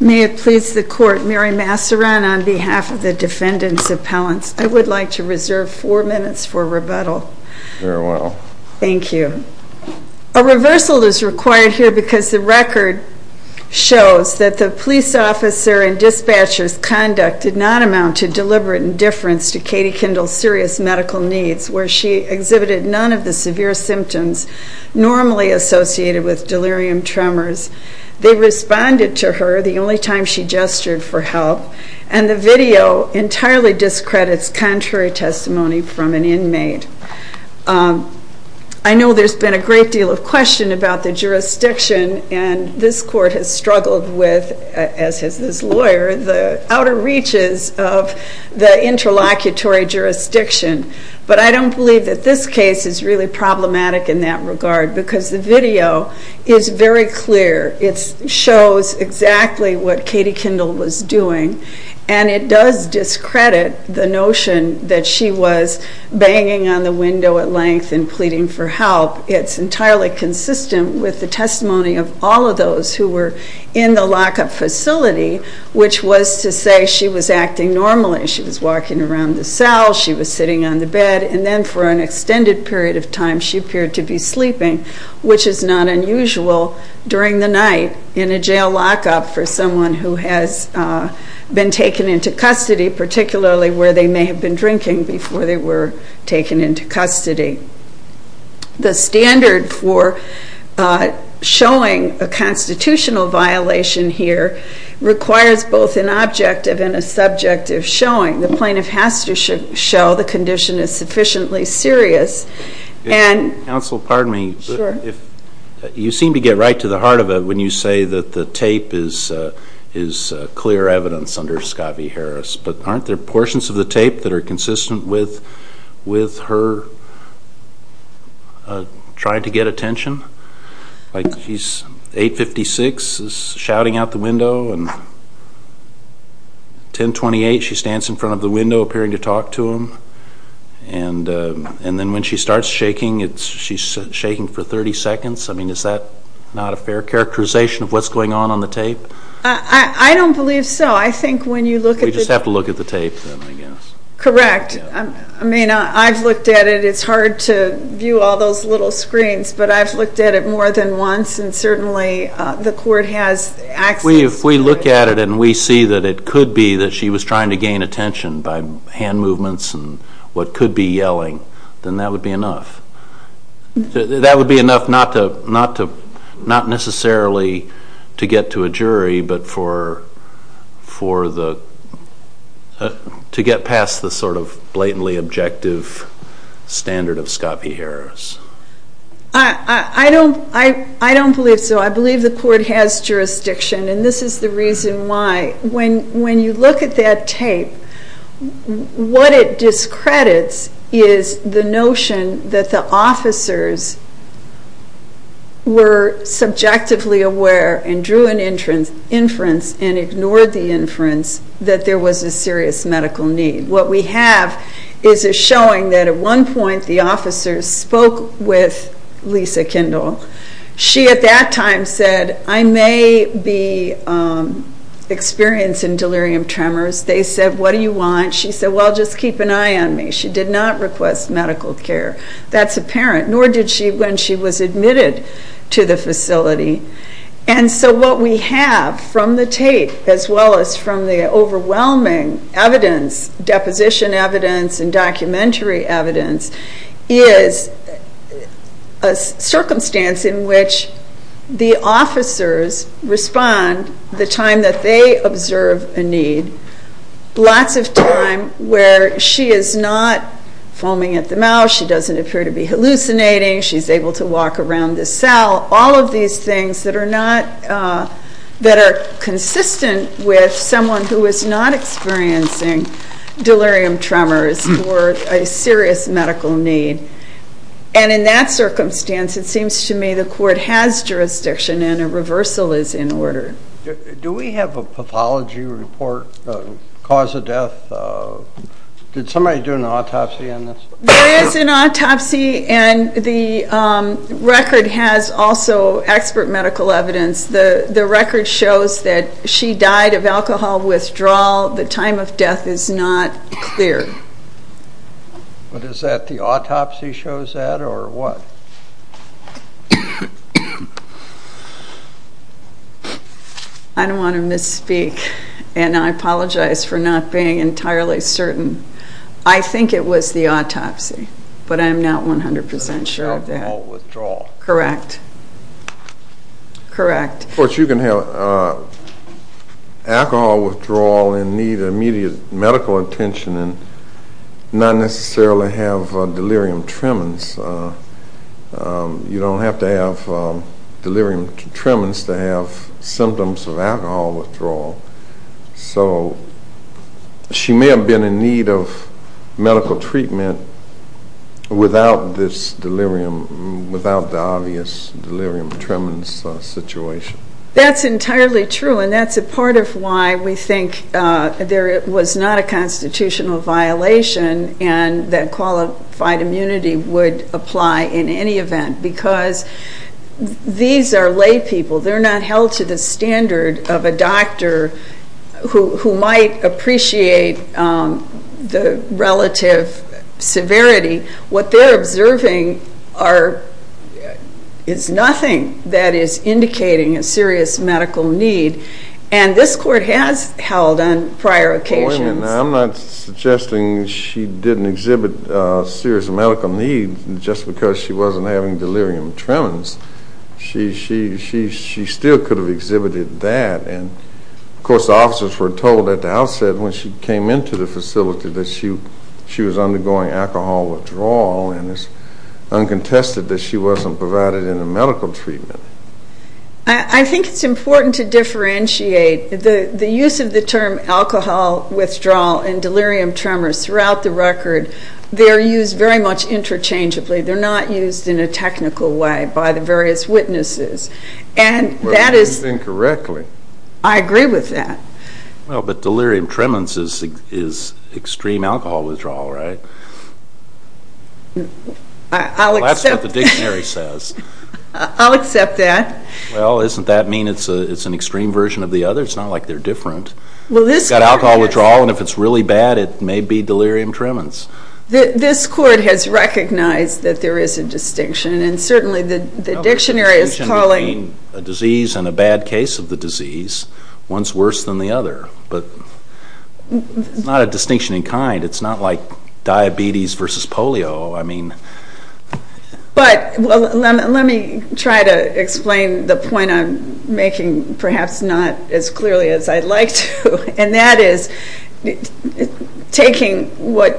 May it please the court, Mary Massaran on behalf of the defendants' appellants, I would like to reserve four minutes for rebuttal. Very well. Thank you. A reversal is required here because the record shows that the police officer and dispatcher's conduct did not amount to deliberate indifference to Katie Kindl's serious medical needs, where she exhibited none of the severe symptoms normally associated with delirium tremors. They responded to her the only time she gestured for help, and the video entirely discredits contrary testimony from an inmate. I know there's been a great deal of question about the jurisdiction, and this court has of the interlocutory jurisdiction, but I don't believe that this case is really problematic in that regard because the video is very clear. It shows exactly what Katie Kindl was doing, and it does discredit the notion that she was banging on the window at length and pleading for help. It's entirely consistent with the testimony of all of those who were in the lockup facility, which was to say she was acting normally. She was walking around the cell, she was sitting on the bed, and then for an extended period of time she appeared to be sleeping, which is not unusual during the night in a jail lockup for someone who has been taken into custody, particularly where they may have been drinking before they were taken into custody. The standard for showing a constitutional violation here requires both an objective and a subjective showing. The plaintiff has to show the condition is sufficiently serious. Counsel, pardon me, but you seem to get right to the heart of it when you say that the tape is clear evidence under Scott v. Harris, but aren't there portions of the tape that are trying to get attention? Like 856 is shouting out the window, and 1028, she stands in front of the window appearing to talk to him, and then when she starts shaking, she's shaking for 30 seconds. I mean, is that not a fair characterization of what's going on on the tape? I don't believe so. I think when you look at the tape. We just have to look at the tape, then, I guess. Correct. I mean, I've looked at it. It's hard to view all those little screens, but I've looked at it more than once, and certainly the court has access to it. If we look at it and we see that it could be that she was trying to gain attention by hand movements and what could be yelling, then that would be enough. That would be enough not necessarily to get to a jury, but to get past the sort of blatantly objective standard of Scott v. Harris. I don't believe so. I believe the court has jurisdiction, and this is the reason why. When you look at that tape, what it discredits is the notion that the officers were subjectively aware and drew an inference and ignored the inference that there was a serious medical need. What we have is a showing that at one point the officers spoke with Lisa Kendall. She at that time said, I may be experiencing delirium tremors. They said, what do you want? She said, well, just keep an eye on me. She did not request medical care. That's apparent, nor did she when she was admitted to the facility. What we have from the tape, as well as from the overwhelming evidence, deposition evidence and documentary evidence, is a circumstance in which the officers respond the time that they observe a need, lots of time where she is not foaming at the mouth, she doesn't appear to be hallucinating, she's able to walk around the cell, all of these things that are consistent with someone who is not experiencing delirium tremors or a serious medical need. In that circumstance, it seems to me the court has jurisdiction and a reversal is in order. Do we have a pathology report, cause of death? Did somebody do an autopsy on this? There is an autopsy and the record has also expert medical evidence. The record shows that she died of alcohol withdrawal. The time of death is not clear. But is that the autopsy shows that or what? I don't want to misspeak and I apologize for not being entirely certain. I think it was the autopsy, but I'm not 100% sure of that. Alcohol withdrawal. Correct. Correct. Of course you can have alcohol withdrawal and need immediate medical attention and not necessarily have delirium tremens. You don't have to have delirium tremens to have symptoms of alcohol withdrawal. So she may have been in need of medical treatment without this delirium, without the obvious delirium tremens situation. That's entirely true and that's a part of why we think there was not a constitutional violation and that qualified immunity would apply in any event because these are lay people. They're not held to the standard of a doctor who might appreciate the relative severity. What they're observing is nothing that is indicating a serious medical need and this court has held on prior occasions. I'm not suggesting she didn't exhibit a serious medical need just because she wasn't having delirium tremens. She still could have exhibited that and of course officers were told at the outset when she came into the facility that she was undergoing alcohol withdrawal and it's uncontested that she wasn't provided any medical treatment. I think it's important to differentiate. The use of the term alcohol withdrawal and delirium tremors throughout the record, they're used very much interchangeably. They're not used in a technical way by the various witnesses. And that is... You've been correct. I agree with that. Well, but delirium tremens is extreme alcohol withdrawal, right? I'll accept that. That's what the dictionary says. I'll accept that. Well, doesn't that mean it's an extreme version of the other? It's not like they're different. Well, this court has... You've got alcohol withdrawal and if it's really bad, it may be delirium tremens. This court has recognized that there is a distinction and certainly the dictionary is calling... But it's not a distinction in kind. It's not like diabetes versus polio. I mean... But let me try to explain the point I'm making, perhaps not as clearly as I'd like to. And that is, taking what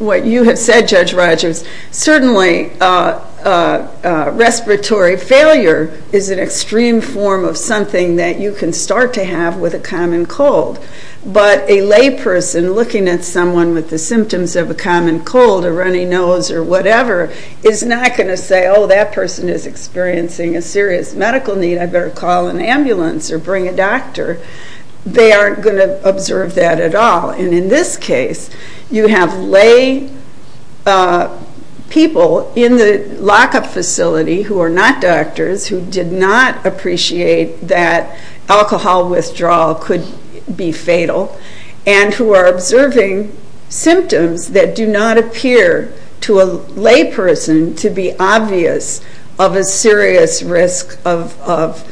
you have said, Judge Rogers, certainly respiratory failure is an extreme form of something that you can start to have with a common cold. But a lay person looking at someone with the symptoms of a common cold or runny nose or whatever is not going to say, oh, that person is experiencing a serious medical need. I better call an ambulance or bring a doctor. They aren't going to observe that at all. And in this case, you have lay people in the lockup facility who are not doctors who did not appreciate that alcohol withdrawal could be fatal and who are observing symptoms that do not appear to a lay person to be obvious of a serious risk of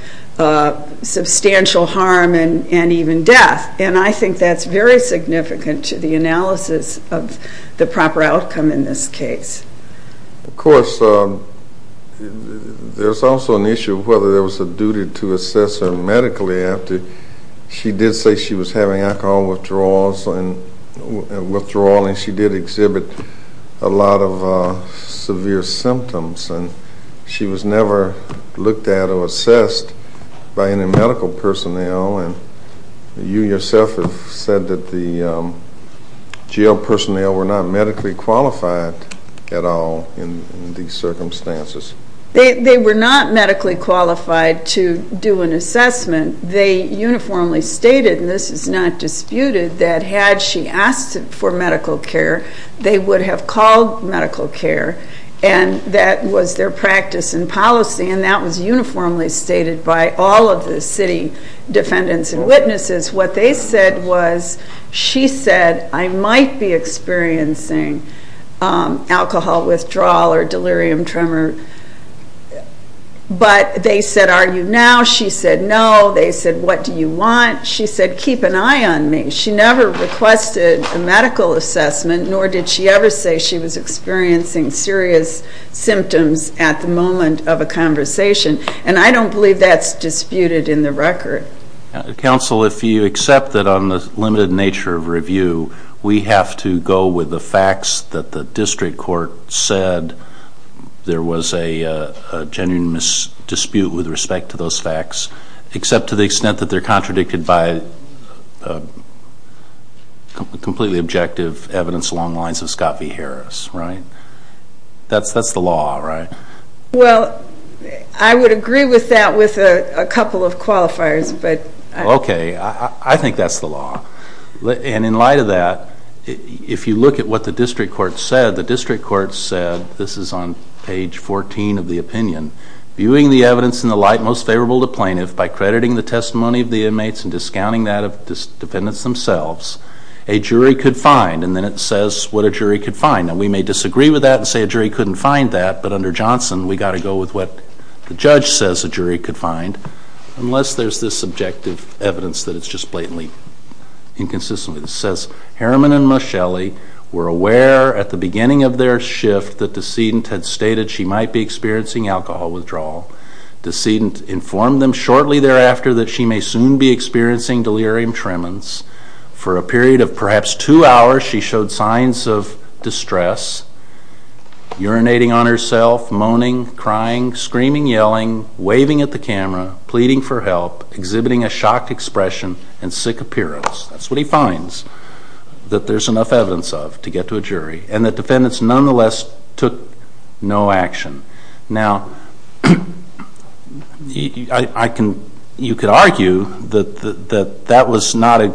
substantial harm and even death. And I think that's very significant to the analysis of the proper outcome in this case. Of course, there's also an issue of whether there was a duty to assess her medically after. She did say she was having alcohol withdrawal, and she did exhibit a lot of severe symptoms. And she was never looked at or assessed by any medical personnel. You yourself have said that the jail personnel were not medically qualified at all in these circumstances. They were not medically qualified to do an assessment. They uniformly stated, and this is not disputed, that had she asked for medical care, they would have called medical care, and that was their practice and policy, and that was uniformly stated by all of the city defendants and witnesses. What they said was she said, I might be experiencing alcohol withdrawal or delirium tremor. But they said, Are you now? She said, No. They said, What do you want? She said, Keep an eye on me. She never requested a medical assessment, nor did she ever say she was experiencing serious symptoms at the moment of a conversation. And I don't believe that's disputed in the record. Counsel, if you accept that on the limited nature of review, we have to go with the facts that the district court said there was a genuine dispute with respect to those facts, except to the extent that they're contradicted by completely objective evidence along the lines of Scott v. Harris, right? That's the law, right? Well, I would agree with that with a couple of qualifiers. Okay. I think that's the law. And in light of that, if you look at what the district court said, the district court said, this is on page 14 of the opinion, Viewing the evidence in the light most favorable to plaintiff, by crediting the testimony of the inmates and discounting that of the defendants themselves, a jury could find, and then it says what a jury could find. Now, we may disagree with that and say a jury couldn't find that, but under Johnson, we've got to go with what the judge says a jury could find, unless there's this subjective evidence that it's just blatantly inconsistent. It says, Harriman and Moschelli were aware at the beginning of their shift that the decedent had stated she might be experiencing alcohol withdrawal. The decedent informed them shortly thereafter that she may soon be experiencing delirium tremens. For a period of perhaps two hours, she showed signs of distress, urinating on herself, moaning, crying, screaming, yelling, waving at the camera, pleading for help, exhibiting a shocked expression and sick appearance. That's what he finds that there's enough evidence of to get to a jury. And the defendants nonetheless took no action. Now, you could argue that that was not a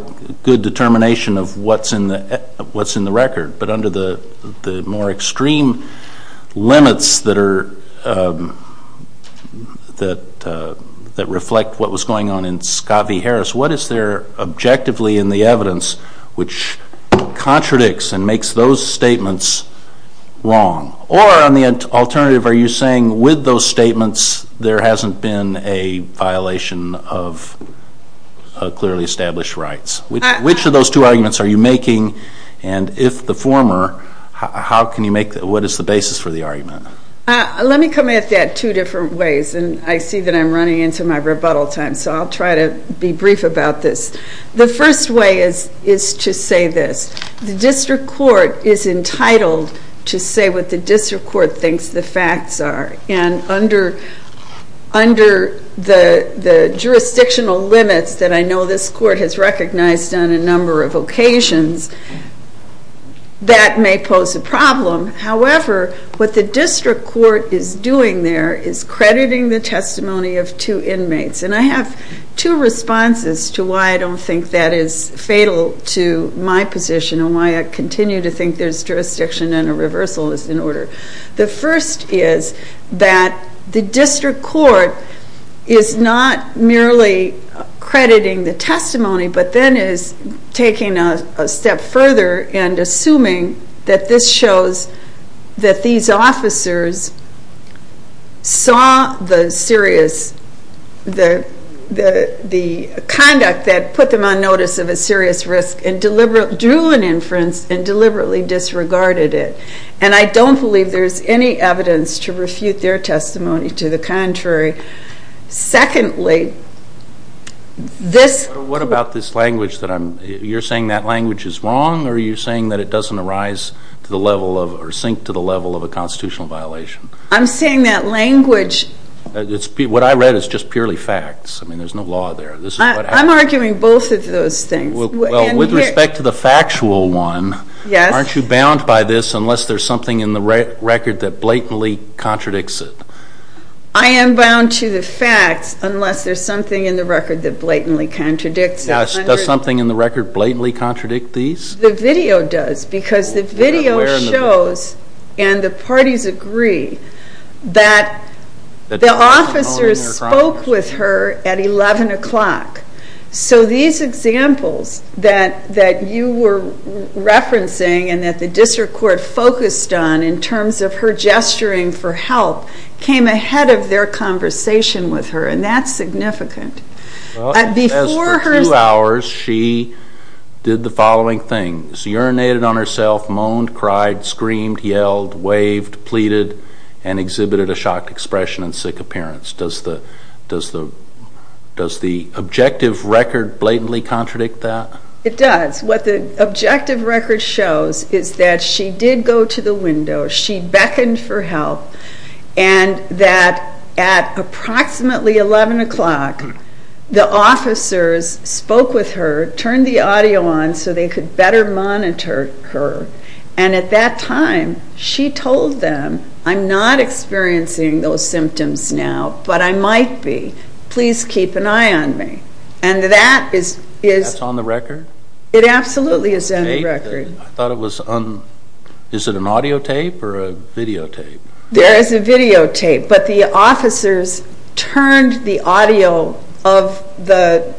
good determination of what's in the record, but under the more extreme limits that reflect what was going on in Scott v. Harris, what is there objectively in the evidence which contradicts and makes those statements wrong? Or on the alternative, are you saying with those statements there hasn't been a violation of clearly established rights? Which of those two arguments are you making? And if the former, what is the basis for the argument? Let me come at that two different ways, and I see that I'm running into my rebuttal time, so I'll try to be brief about this. The first way is to say this. The district court is entitled to say what the district court thinks the facts are. And under the jurisdictional limits that I know this court has recognized on a number of occasions, that may pose a problem. However, what the district court is doing there is crediting the testimony of two inmates. And I have two responses to why I don't think that is fatal to my position and why I continue to think there's jurisdiction and a reversal is in order. The first is that the district court is not merely crediting the testimony, but then is taking a step further and assuming that this shows that these officers saw the serious conduct that put them on notice of a serious risk and drew an inference and deliberately disregarded it. And I don't believe there's any evidence to refute their testimony. To the contrary. Secondly, this- What about this language that I'm-you're saying that language is wrong or are you saying that it doesn't arise to the level of or sink to the level of a constitutional violation? I'm saying that language- What I read is just purely facts. I mean, there's no law there. I'm arguing both of those things. Well, with respect to the factual one- Yes. Aren't you bound by this unless there's something in the record that blatantly contradicts it? I am bound to the facts unless there's something in the record that blatantly contradicts it. Does something in the record blatantly contradict these? The video does because the video shows and the parties agree that the officers spoke with her at 11 o'clock. So these examples that you were referencing and that the district court focused on in terms of her gesturing for help came ahead of their conversation with her. And that's significant. As for two hours, she did the following thing. She urinated on herself, moaned, cried, screamed, yelled, waved, pleaded, and exhibited a shocked expression and sick appearance. Does the objective record blatantly contradict that? It does. What the objective record shows is that she did go to the window, she beckoned for help, and that at approximately 11 o'clock the officers spoke with her, turned the audio on so they could better monitor her, and at that time she told them, I'm not experiencing those symptoms now, but I might be. Please keep an eye on me. And that is- Absolutely is on the record. I thought it was on, is it an audio tape or a video tape? There is a video tape, but the officers turned the audio of the-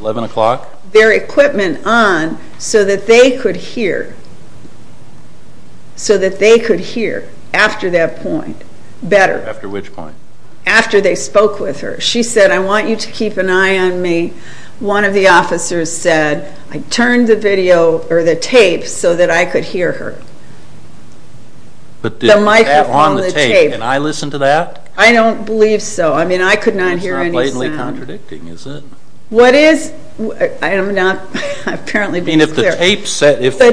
11 o'clock? Their equipment on so that they could hear, so that they could hear after that point better. After which point? After they spoke with her. She said, I want you to keep an eye on me. One of the officers said, I turned the tape so that I could hear her. The microphone, the tape. Can I listen to that? I don't believe so. I could not hear any sound. It's not blatantly contradicting, is it? What is? I'm not apparently being clear. The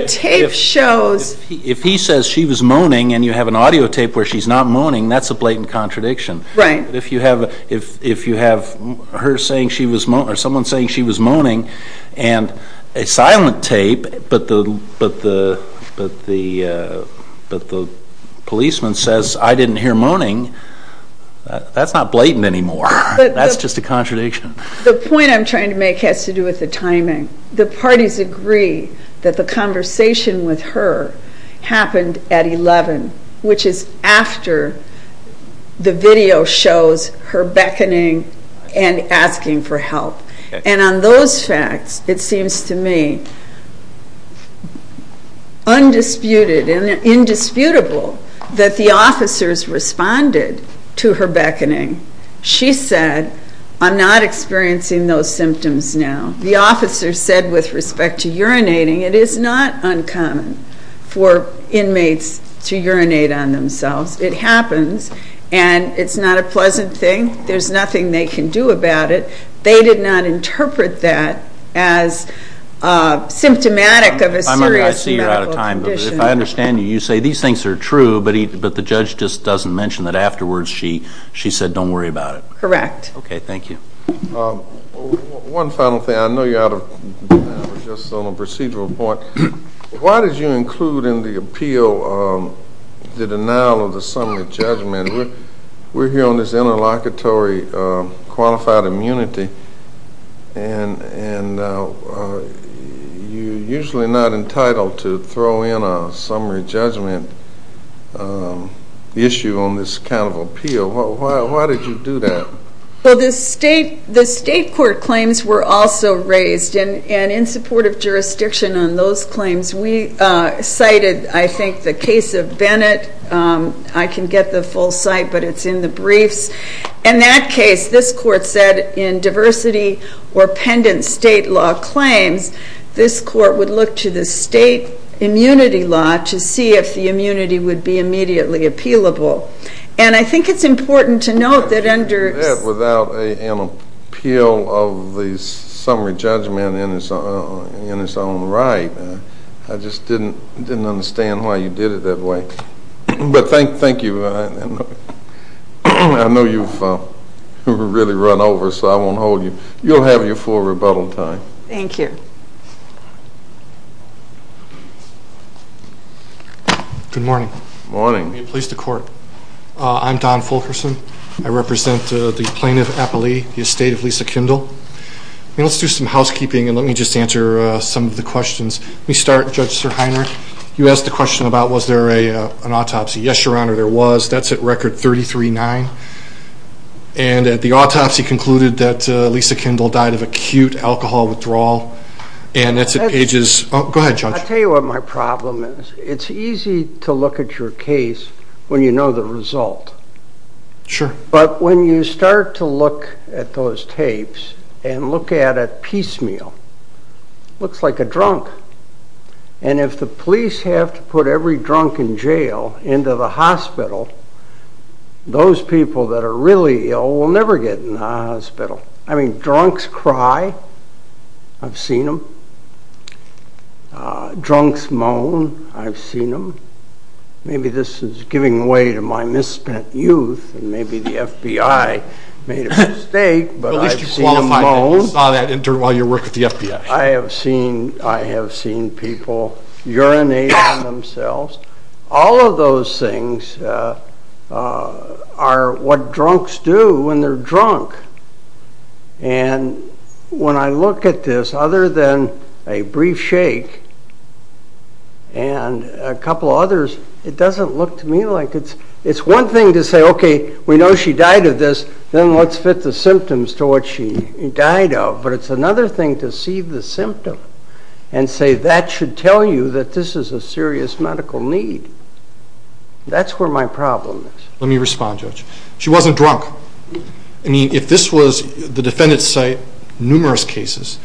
tape shows- If he says she was moaning and you have an audio tape where she's not moaning, that's a blatant contradiction. Right. If you have her saying she was moaning or someone saying she was moaning and a silent tape, but the policeman says, I didn't hear moaning, that's not blatant anymore. That's just a contradiction. The point I'm trying to make has to do with the timing. The parties agree that the conversation with her happened at 11, which is after the video shows her beckoning and asking for help. And on those facts, it seems to me undisputed and indisputable that the officers responded to her beckoning. She said, I'm not experiencing those symptoms now. The officer said with respect to urinating, it is not uncommon for inmates to urinate on themselves. It happens, and it's not a pleasant thing. There's nothing they can do about it. They did not interpret that as symptomatic of a serious medical condition. I see you're out of time, but if I understand you, you say these things are true, but the judge just doesn't mention that afterwards she said don't worry about it. Correct. Okay, thank you. One final thing. I know you're out of time. We're just on a procedural point. Why did you include in the appeal the denial of the summary judgment? We're here on this interlocutory qualified immunity, and you're usually not entitled to throw in a summary judgment issue on this kind of appeal. Why did you do that? Well, the state court claims were also raised, and in support of jurisdiction on those claims, we cited, I think, the case of Bennett. I can get the full cite, but it's in the briefs. In that case, this court said in diversity or pendent state law claims, this court would look to the state immunity law to see if the immunity would be immediately appealable. And I think it's important to note that under this. Without an appeal of the summary judgment in its own right, I just didn't understand why you did it that way. But thank you. I know you've really run over, so I won't hold you. You'll have your full rebuttal time. Thank you. Good morning. Morning. Let me please the court. I'm Don Fulkerson. I represent the plaintiff, Apolli, the estate of Lisa Kindle. Let's do some housekeeping, and let me just answer some of the questions. Let me start, Judge Sirhiner. You asked the question about was there an autopsy. Yes, Your Honor, there was. That's at record 33-9. And the autopsy concluded that Lisa Kindle died of acute alcohol withdrawal, and that's at pagesó Go ahead, Judge. I'll tell you what my problem is. It's easy to look at your case when you know the result. Sure. But when you start to look at those tapes and look at it piecemeal, it looks like a drunk. And if the police have to put every drunk in jail into the hospital, those people that are really ill will never get in the hospital. I mean, drunks cry. I've seen them. Drunks moan. I've seen them. Maybe this is giving way to my misspent youth, and maybe the FBI made a mistake, but I've seen them moan. At least you qualified that you saw that intern while you worked with the FBI. I have seen people urinating on themselves. All of those things are what drunks do when they're drunk. And when I look at this, other than a brief shake and a couple of others, it doesn't look to me like it's one thing to say, okay, we know she died of this, then let's fit the symptoms to what she died of. But it's another thing to see the symptom and say that should tell you that this is a serious medical need. That's where my problem is. Let me respond, Judge. She wasn't drunk. I mean, if this was the defendant's site, numerous cases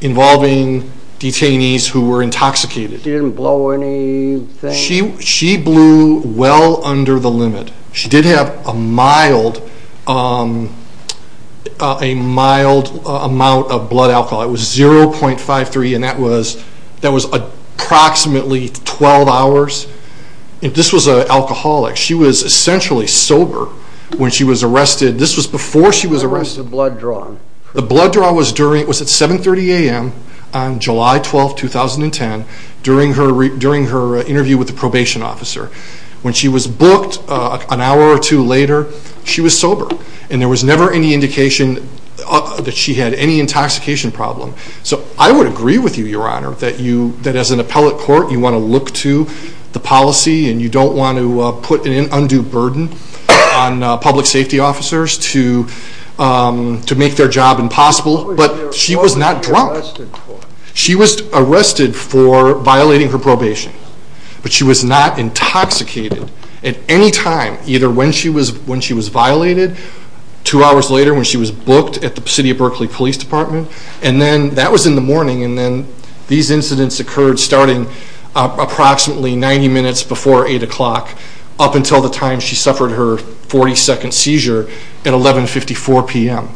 involving detainees who were intoxicated. She didn't blow anything? She blew well under the limit. She did have a mild amount of blood alcohol. It was 0.53, and that was approximately 12 hours. If this was an alcoholic, she was essentially sober when she was arrested. This was before she was arrested. The blood draw? The blood draw was at 7.30 a.m. on July 12, 2010, during her interview with the probation officer. When she was booked an hour or two later, she was sober, and there was never any indication that she had any intoxication problem. So I would agree with you, Your Honor, that as an appellate court, you want to look to the policy and you don't want to put an undue burden on public safety officers to make their job impossible. But she was not drunk. She was arrested for violating her probation, but she was not intoxicated at any time, either when she was violated two hours later when she was booked at the City of Berkeley Police Department. That was in the morning, and these incidents occurred starting approximately 90 minutes before 8 o'clock up until the time she suffered her 40-second seizure at 11.54 p.m.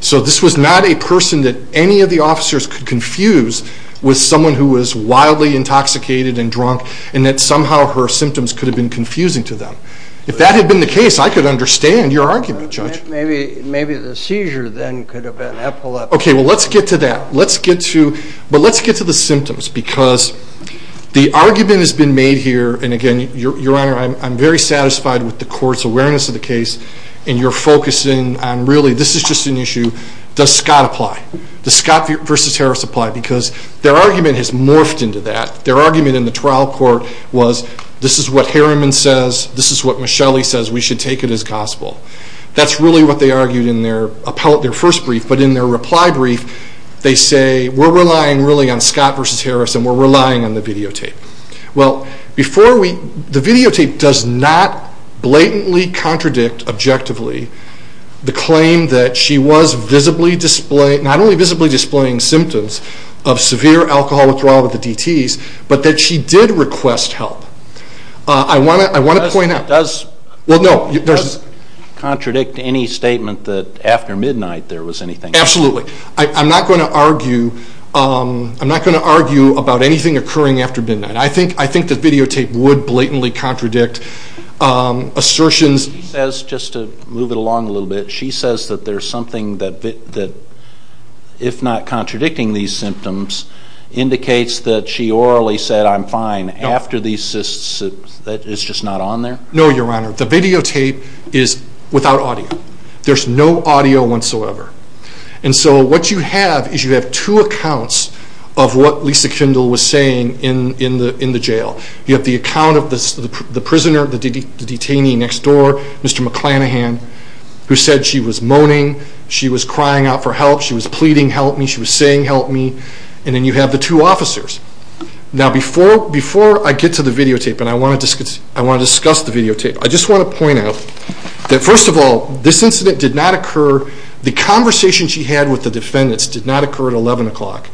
So this was not a person that any of the officers could confuse with someone who was wildly intoxicated and drunk and that somehow her symptoms could have been confusing to them. If that had been the case, I could understand your argument, Judge. Maybe the seizure then could have been epileptic. Okay, well, let's get to that. But let's get to the symptoms because the argument has been made here, and again, Your Honor, I'm very satisfied with the court's awareness of the case, and you're focusing on really this is just an issue, does Scott apply? Does Scott v. Harris apply? Because their argument has morphed into that. Their argument in the trial court was this is what Harriman says, this is what Michelli says, we should take it as gospel. That's really what they argued in their first brief, but in their reply brief they say we're relying really on Scott v. Harris and we're relying on the videotape. Well, the videotape does not blatantly contradict objectively the claim that she was not only visibly displaying symptoms of severe alcohol withdrawal with the DTs, but that she did request help. I want to point out. Does the videotape contradict any statement that after midnight there was anything? Absolutely. I'm not going to argue about anything occurring after midnight. I think the videotape would blatantly contradict assertions. She says, just to move it along a little bit, she says that there's something that, if not contradicting these symptoms, indicates that she orally said I'm fine after these cysts. It's just not on there? No, Your Honor. The videotape is without audio. There's no audio whatsoever. And so what you have is you have two accounts of what Lisa Kendall was saying in the jail. You have the account of the prisoner, the detainee next door, Mr. McClanahan, who said she was moaning, she was crying out for help, she was pleading, she was begging help, she was saying help me, and then you have the two officers. Now, before I get to the videotape and I want to discuss the videotape, I just want to point out that, first of all, this incident did not occur, the conversation she had with the defendants did not occur at 11 o'clock,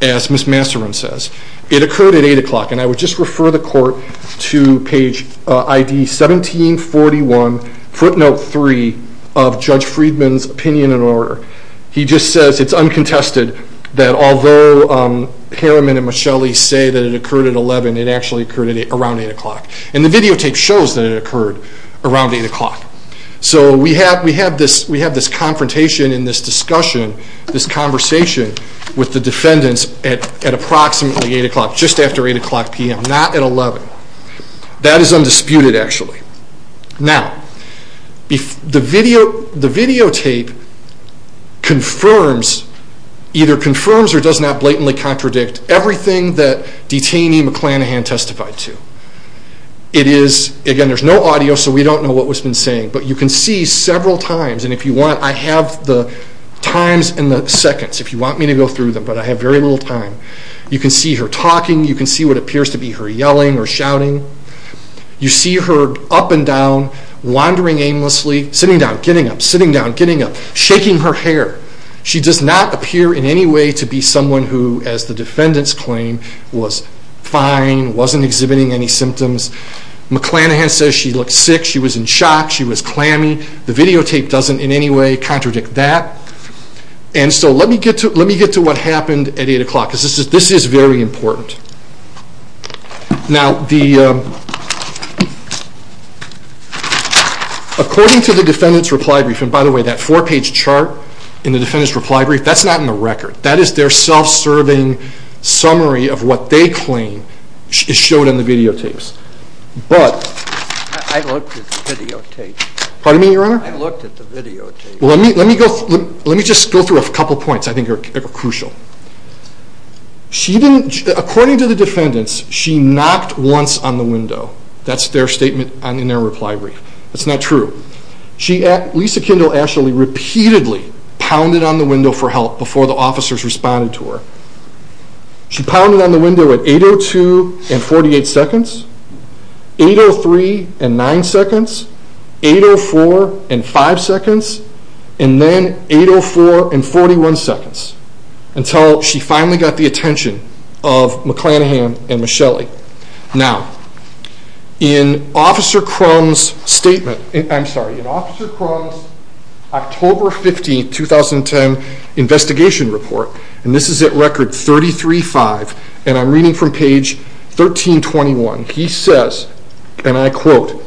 as Ms. Masseron says. It occurred at 8 o'clock, and I would just refer the Court to page ID 1741, footnote 3, of Judge Friedman's opinion and order. He just says it's uncontested that although Harriman and Michelli say that it occurred at 11, it actually occurred around 8 o'clock. And the videotape shows that it occurred around 8 o'clock. So we have this confrontation in this discussion, this conversation, with the defendants at approximately 8 o'clock, just after 8 o'clock p.m., not at 11. That is undisputed, actually. Now, the videotape confirms, either confirms or does not blatantly contradict, everything that detainee McClanahan testified to. It is, again, there's no audio, so we don't know what was been saying, but you can see several times, and if you want, I have the times and the seconds, if you want me to go through them, but I have very little time. You can see her talking. You can see what appears to be her yelling or shouting. You see her up and down, wandering aimlessly, sitting down, getting up, sitting down, getting up, shaking her hair. She does not appear in any way to be someone who, as the defendants claim, was fine, wasn't exhibiting any symptoms. McClanahan says she looked sick. She was in shock. She was clammy. The videotape doesn't in any way contradict that. And so let me get to what happened at 8 o'clock, because this is very important. Now, according to the defendant's reply brief, and by the way, that four-page chart in the defendant's reply brief, that's not in the record. That is their self-serving summary of what they claim is shown in the videotapes. I looked at the videotapes. Pardon me, Your Honor? I looked at the videotapes. Well, let me just go through a couple points I think are crucial. According to the defendants, she knocked once on the window. That's their statement in their reply brief. That's not true. Lisa Kendall Ashley repeatedly pounded on the window for help before the officers responded to her. She pounded on the window at 8.02 and 48 seconds, 8.03 and 9 seconds, 8.04 and 5 seconds, and then 8.04 and 41 seconds. Until she finally got the attention of McClanahan and Michelli. Now, in Officer Crum's statement, I'm sorry, in Officer Crum's October 15, 2010, investigation report, and this is at record 33-5, and I'm reading from page 1321, he says, and I quote,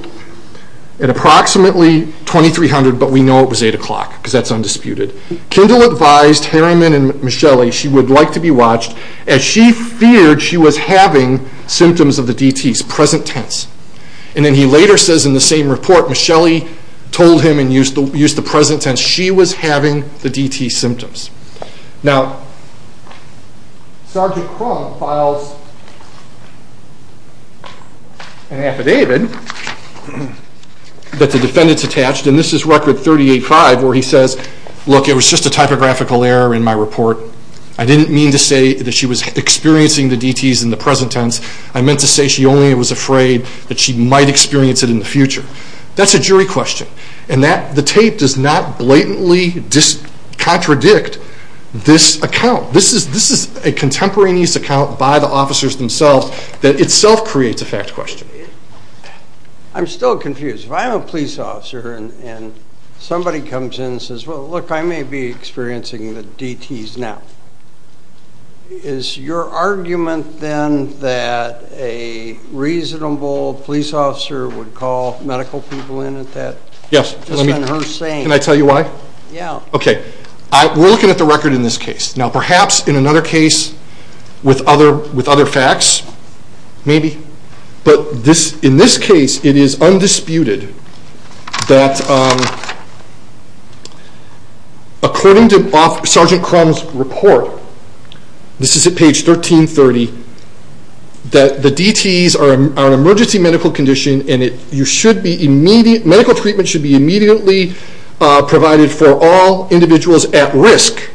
at approximately 2300, but we know it was 8 o'clock because that's undisputed, Kendall advised Harriman and Michelli she would like to be watched, as she feared she was having symptoms of the DT's, present tense. And then he later says in the same report, Michelli told him and used the present tense, she was having the DT's symptoms. Now, Sergeant Crum files an affidavit that the defendants attached, and this is record 38-5, where he says, look, it was just a typographical error in my report. I didn't mean to say that she was experiencing the DT's in the present tense. I meant to say she only was afraid that she might experience it in the future. That's a jury question, and the tape does not blatantly contradict this account. This is a contemporaneous account by the officers themselves that itself creates a fact question. I'm still confused. If I'm a police officer and somebody comes in and says, well, look, I may be experiencing the DT's now, is your argument then that a reasonable police officer would call medical people in at that? Yes. Just on her saying. Can I tell you why? Yeah. Okay. We're looking at the record in this case. Now, perhaps in another case with other facts, maybe, but in this case it is undisputed that according to Sergeant Crum's report, this is at page 1330, that the DT's are an emergency medical condition and medical treatment should be immediately provided for all individuals at risk.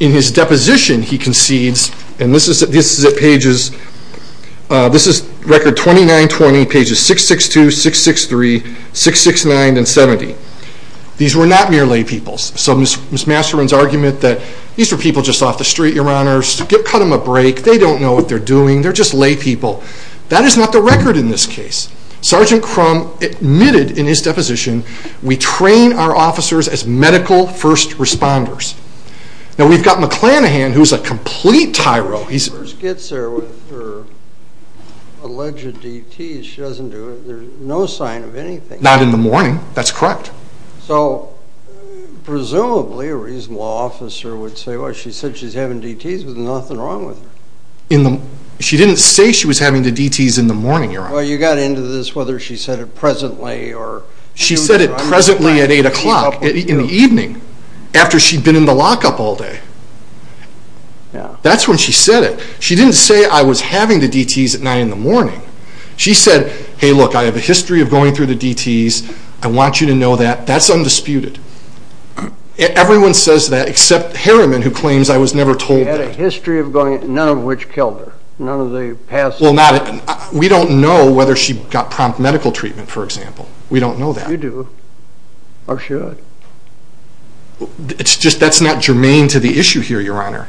In his deposition he concedes, and this is at pages, this is record 2920, pages 662, 663, 669, and 70. These were not mere laypeoples. So Ms. Masterman's argument that these were people just off the street, Your Honors, cut them a break, they don't know what they're doing, they're just laypeople. That is not the record in this case. Sergeant Crum admitted in his deposition, we train our officers as medical first responders. Now, we've got McClanahan, who's a complete tyro. When she first gets there with her alleged DT's, she doesn't do it. There's no sign of anything. Not in the morning. That's correct. So, presumably, a reasonable officer would say, well, she said she's having DT's, there's nothing wrong with her. She didn't say she was having the DT's in the morning, Your Honor. Well, you got into this whether she said it presently or... She said it presently at 8 o'clock in the evening, after she'd been in the lockup all day. That's when she said it. She didn't say, I was having the DT's at 9 in the morning. She said, hey, look, I have a history of going through the DT's. I want you to know that. That's undisputed. Everyone says that except Harriman, who claims I was never told that. She had a history of going, none of which killed her. None of the past... We don't know whether she got prompt medical treatment, for example. We don't know that. You do. Or should. That's not germane to the issue here, Your Honor.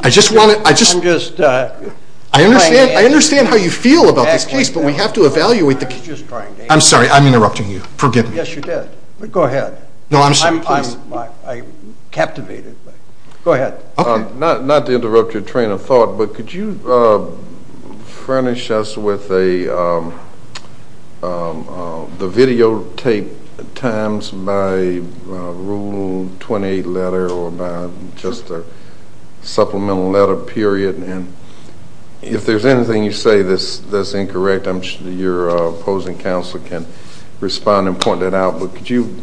I just want to... I'm just trying to... I understand how you feel about this case, but we have to evaluate the... I'm just trying to... I'm sorry, I'm interrupting you. Forgive me. Yes, you did. Go ahead. I'm captivated. Go ahead. Okay. Not to interrupt your train of thought, but could you furnish us with the videotaped times by Rule 28 letter or by just a supplemental letter period? And if there's anything you say that's incorrect, I'm sure your opposing counsel can respond and point that out. But could you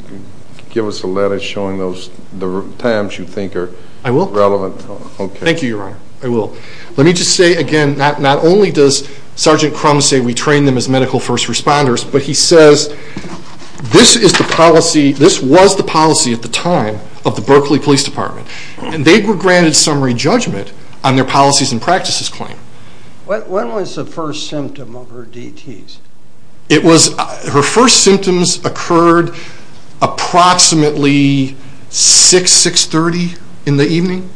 give us a letter showing the times you think are relevant? I will. Thank you, Your Honor. I will. Let me just say again, not only does Sergeant Crum say we train them as medical first responders, but he says this was the policy at the time of the Berkeley Police Department, and they were granted summary judgment on their policies and practices claim. When was the first symptom of her DTs? Her first symptoms occurred approximately 6, 630 in the evening.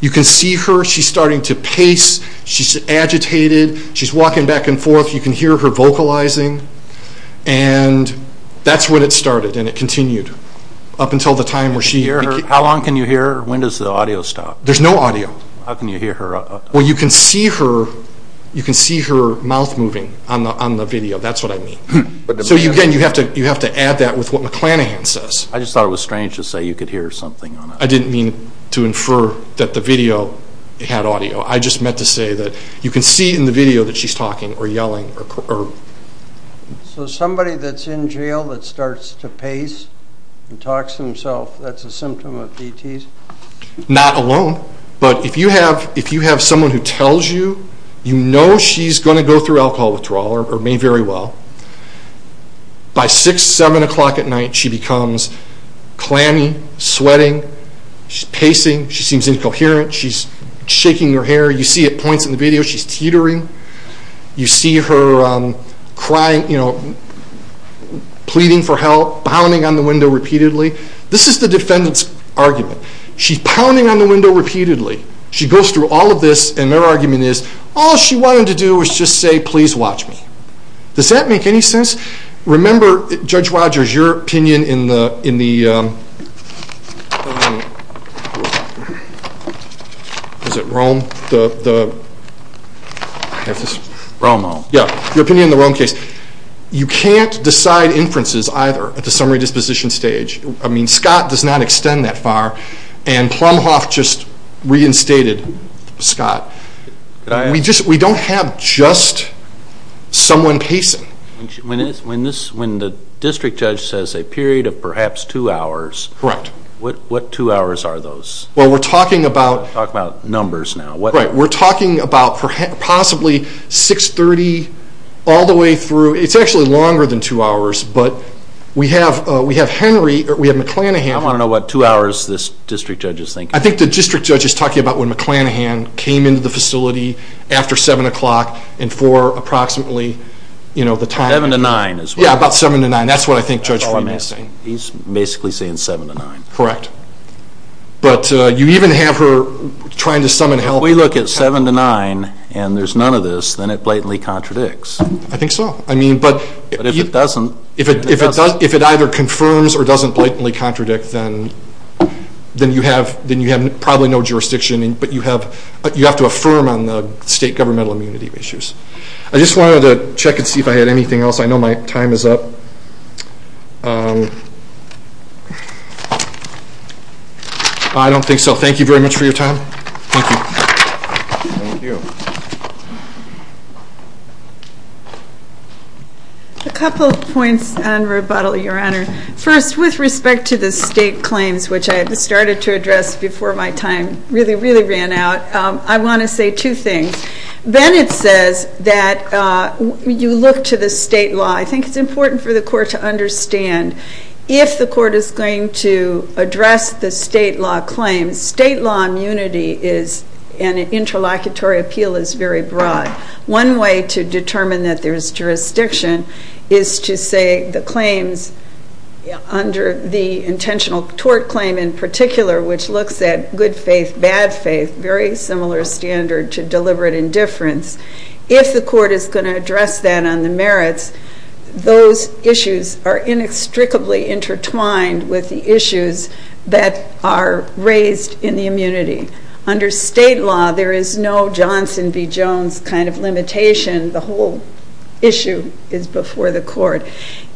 You can see her. She's starting to pace. She's agitated. She's walking back and forth. You can hear her vocalizing. And that's when it started, and it continued up until the time where she... How long can you hear her? When does the audio stop? There's no audio. How can you hear her? Well, you can see her mouth moving on the video. That's what I mean. So, again, you have to add that with what McClanahan says. I just thought it was strange to say you could hear something. I didn't mean to infer that the video had audio. I just meant to say that you can see in the video that she's talking or yelling. So somebody that's in jail that starts to pace and talks to himself, that's a symptom of DTs? Not alone. But if you have someone who tells you, you know she's going to go through alcohol withdrawal or may very well. By 6, 7 o'clock at night, she becomes clammy, sweating. She's pacing. She seems incoherent. She's shaking her hair. You see at points in the video she's teetering. You see her crying, pleading for help, pounding on the window repeatedly. This is the defendant's argument. She's pounding on the window repeatedly. She goes through all of this and their argument is all she wanted to do was just say, please watch me. Does that make any sense? Remember, Judge Rogers, your opinion in the Rome case. You can't decide inferences either at the summary disposition stage. Scott does not extend that far and Plumhoff just reinstated Scott. We don't have just someone pacing. When the district judge says a period of perhaps two hours, what two hours are those? We're talking about numbers now. We're talking about possibly 6.30 all the way through. It's actually longer than two hours, but we have McClanahan. I want to know what two hours this district judge is thinking. I think the district judge is talking about when McClanahan came into the facility after 7 o'clock and for approximately the time. 7 to 9 as well. Yeah, about 7 to 9. That's what I think Judge Fleming is saying. He's basically saying 7 to 9. Correct. But you even have her trying to summon help. If we look at 7 to 9 and there's none of this, then it blatantly contradicts. I think so. But if it doesn't. If it either confirms or doesn't blatantly contradict, then you have probably no jurisdiction. But you have to affirm on the state governmental immunity issues. I just wanted to check and see if I had anything else. I know my time is up. I don't think so. Thank you very much for your time. Thank you. Thank you. A couple of points on rebuttal, Your Honor. First, with respect to the state claims, which I had started to address before my time really, really ran out, I want to say two things. Bennett says that you look to the state law. I think it's important for the court to understand if the court is going to address the state law claims, state law immunity and interlocutory appeal is very broad. One way to determine that there is jurisdiction is to say the claims under the intentional tort claim in particular, which looks at good faith, bad faith, very similar standard to deliberate indifference, if the court is going to address that on the merits, those issues are inextricably intertwined with the issues that are raised in the immunity. Under state law, there is no Johnson v. Jones kind of limitation. The whole issue is before the court.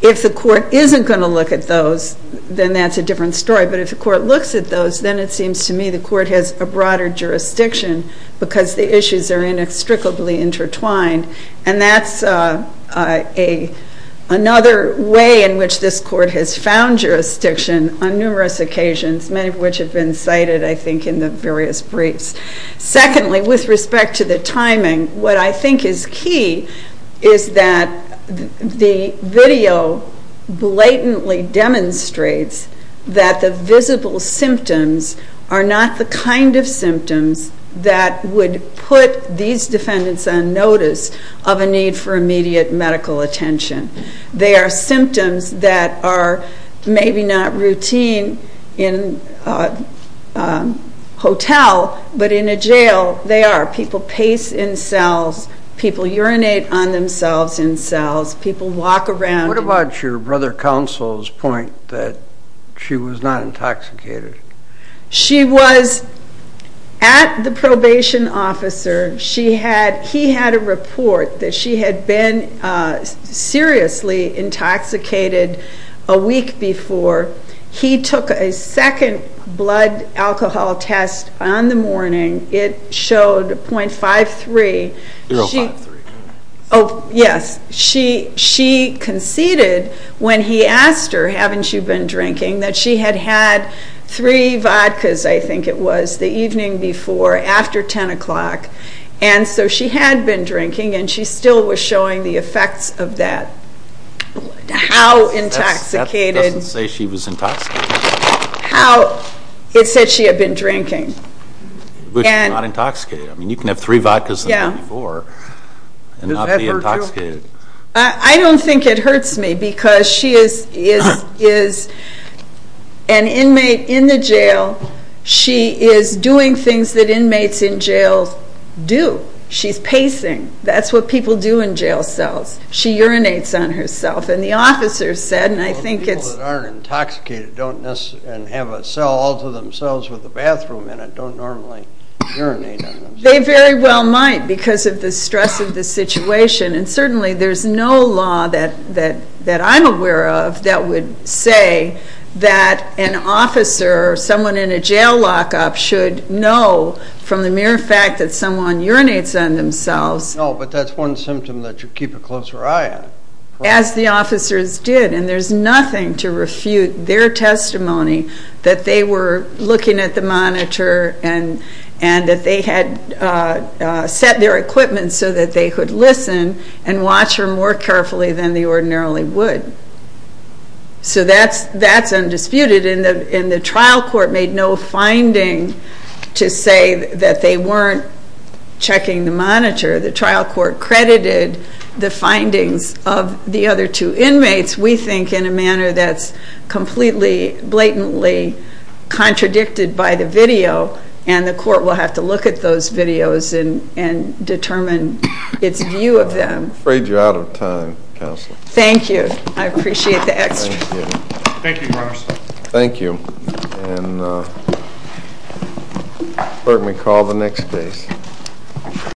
If the court isn't going to look at those, then that's a different story. But if the court looks at those, then it seems to me the court has a broader jurisdiction because the issues are inextricably intertwined. And that's another way in which this court has found jurisdiction on numerous occasions, many of which have been cited, I think, in the various briefs. Secondly, with respect to the timing, what I think is key is that the video blatantly demonstrates that the visible symptoms are not the kind of symptoms that would put these defendants on notice of a need for immediate medical attention. They are symptoms that are maybe not routine in a hotel, but in a jail they are. People pace in cells, people urinate on themselves in cells, people walk around. What about your brother counsel's point that she was not intoxicated? She was at the probation officer. He had a report that she had been seriously intoxicated a week before. He took a second blood alcohol test on the morning. It showed 0.53. 0.53. Oh, yes. She conceded when he asked her, haven't you been drinking, that she had had three vodkas, I think it was, the evening before after 10 o'clock. And so she had been drinking and she still was showing the effects of that blood. How intoxicated. That doesn't say she was intoxicated. How? It said she had been drinking. But she was not intoxicated. I mean, you can have three vodkas the night before and not be intoxicated. I don't think it hurts me because she is an inmate in the jail. She is doing things that inmates in jails do. She's pacing. That's what people do in jail cells. She urinates on herself. People that aren't intoxicated and have a cell all to themselves with a bathroom in it don't normally urinate on themselves. They very well might because of the stress of the situation. And certainly there's no law that I'm aware of that would say that an officer or someone in a jail lockup should know from the mere fact that someone urinates on themselves. No, but that's one symptom that you keep a closer eye on. As the officers did. And there's nothing to refute their testimony that they were looking at the monitor and that they had set their equipment so that they could listen and watch her more carefully than they ordinarily would. So that's undisputed. And the trial court made no finding to say that they weren't checking the monitor. The trial court credited the findings of the other two inmates, we think, in a manner that's completely blatantly contradicted by the video. And the court will have to look at those videos and determine its view of them. I'm afraid you're out of time, Counsel. Thank you. I appreciate the extra. Thank you. Thank you, Your Honor. Thank you. And let me call the next case.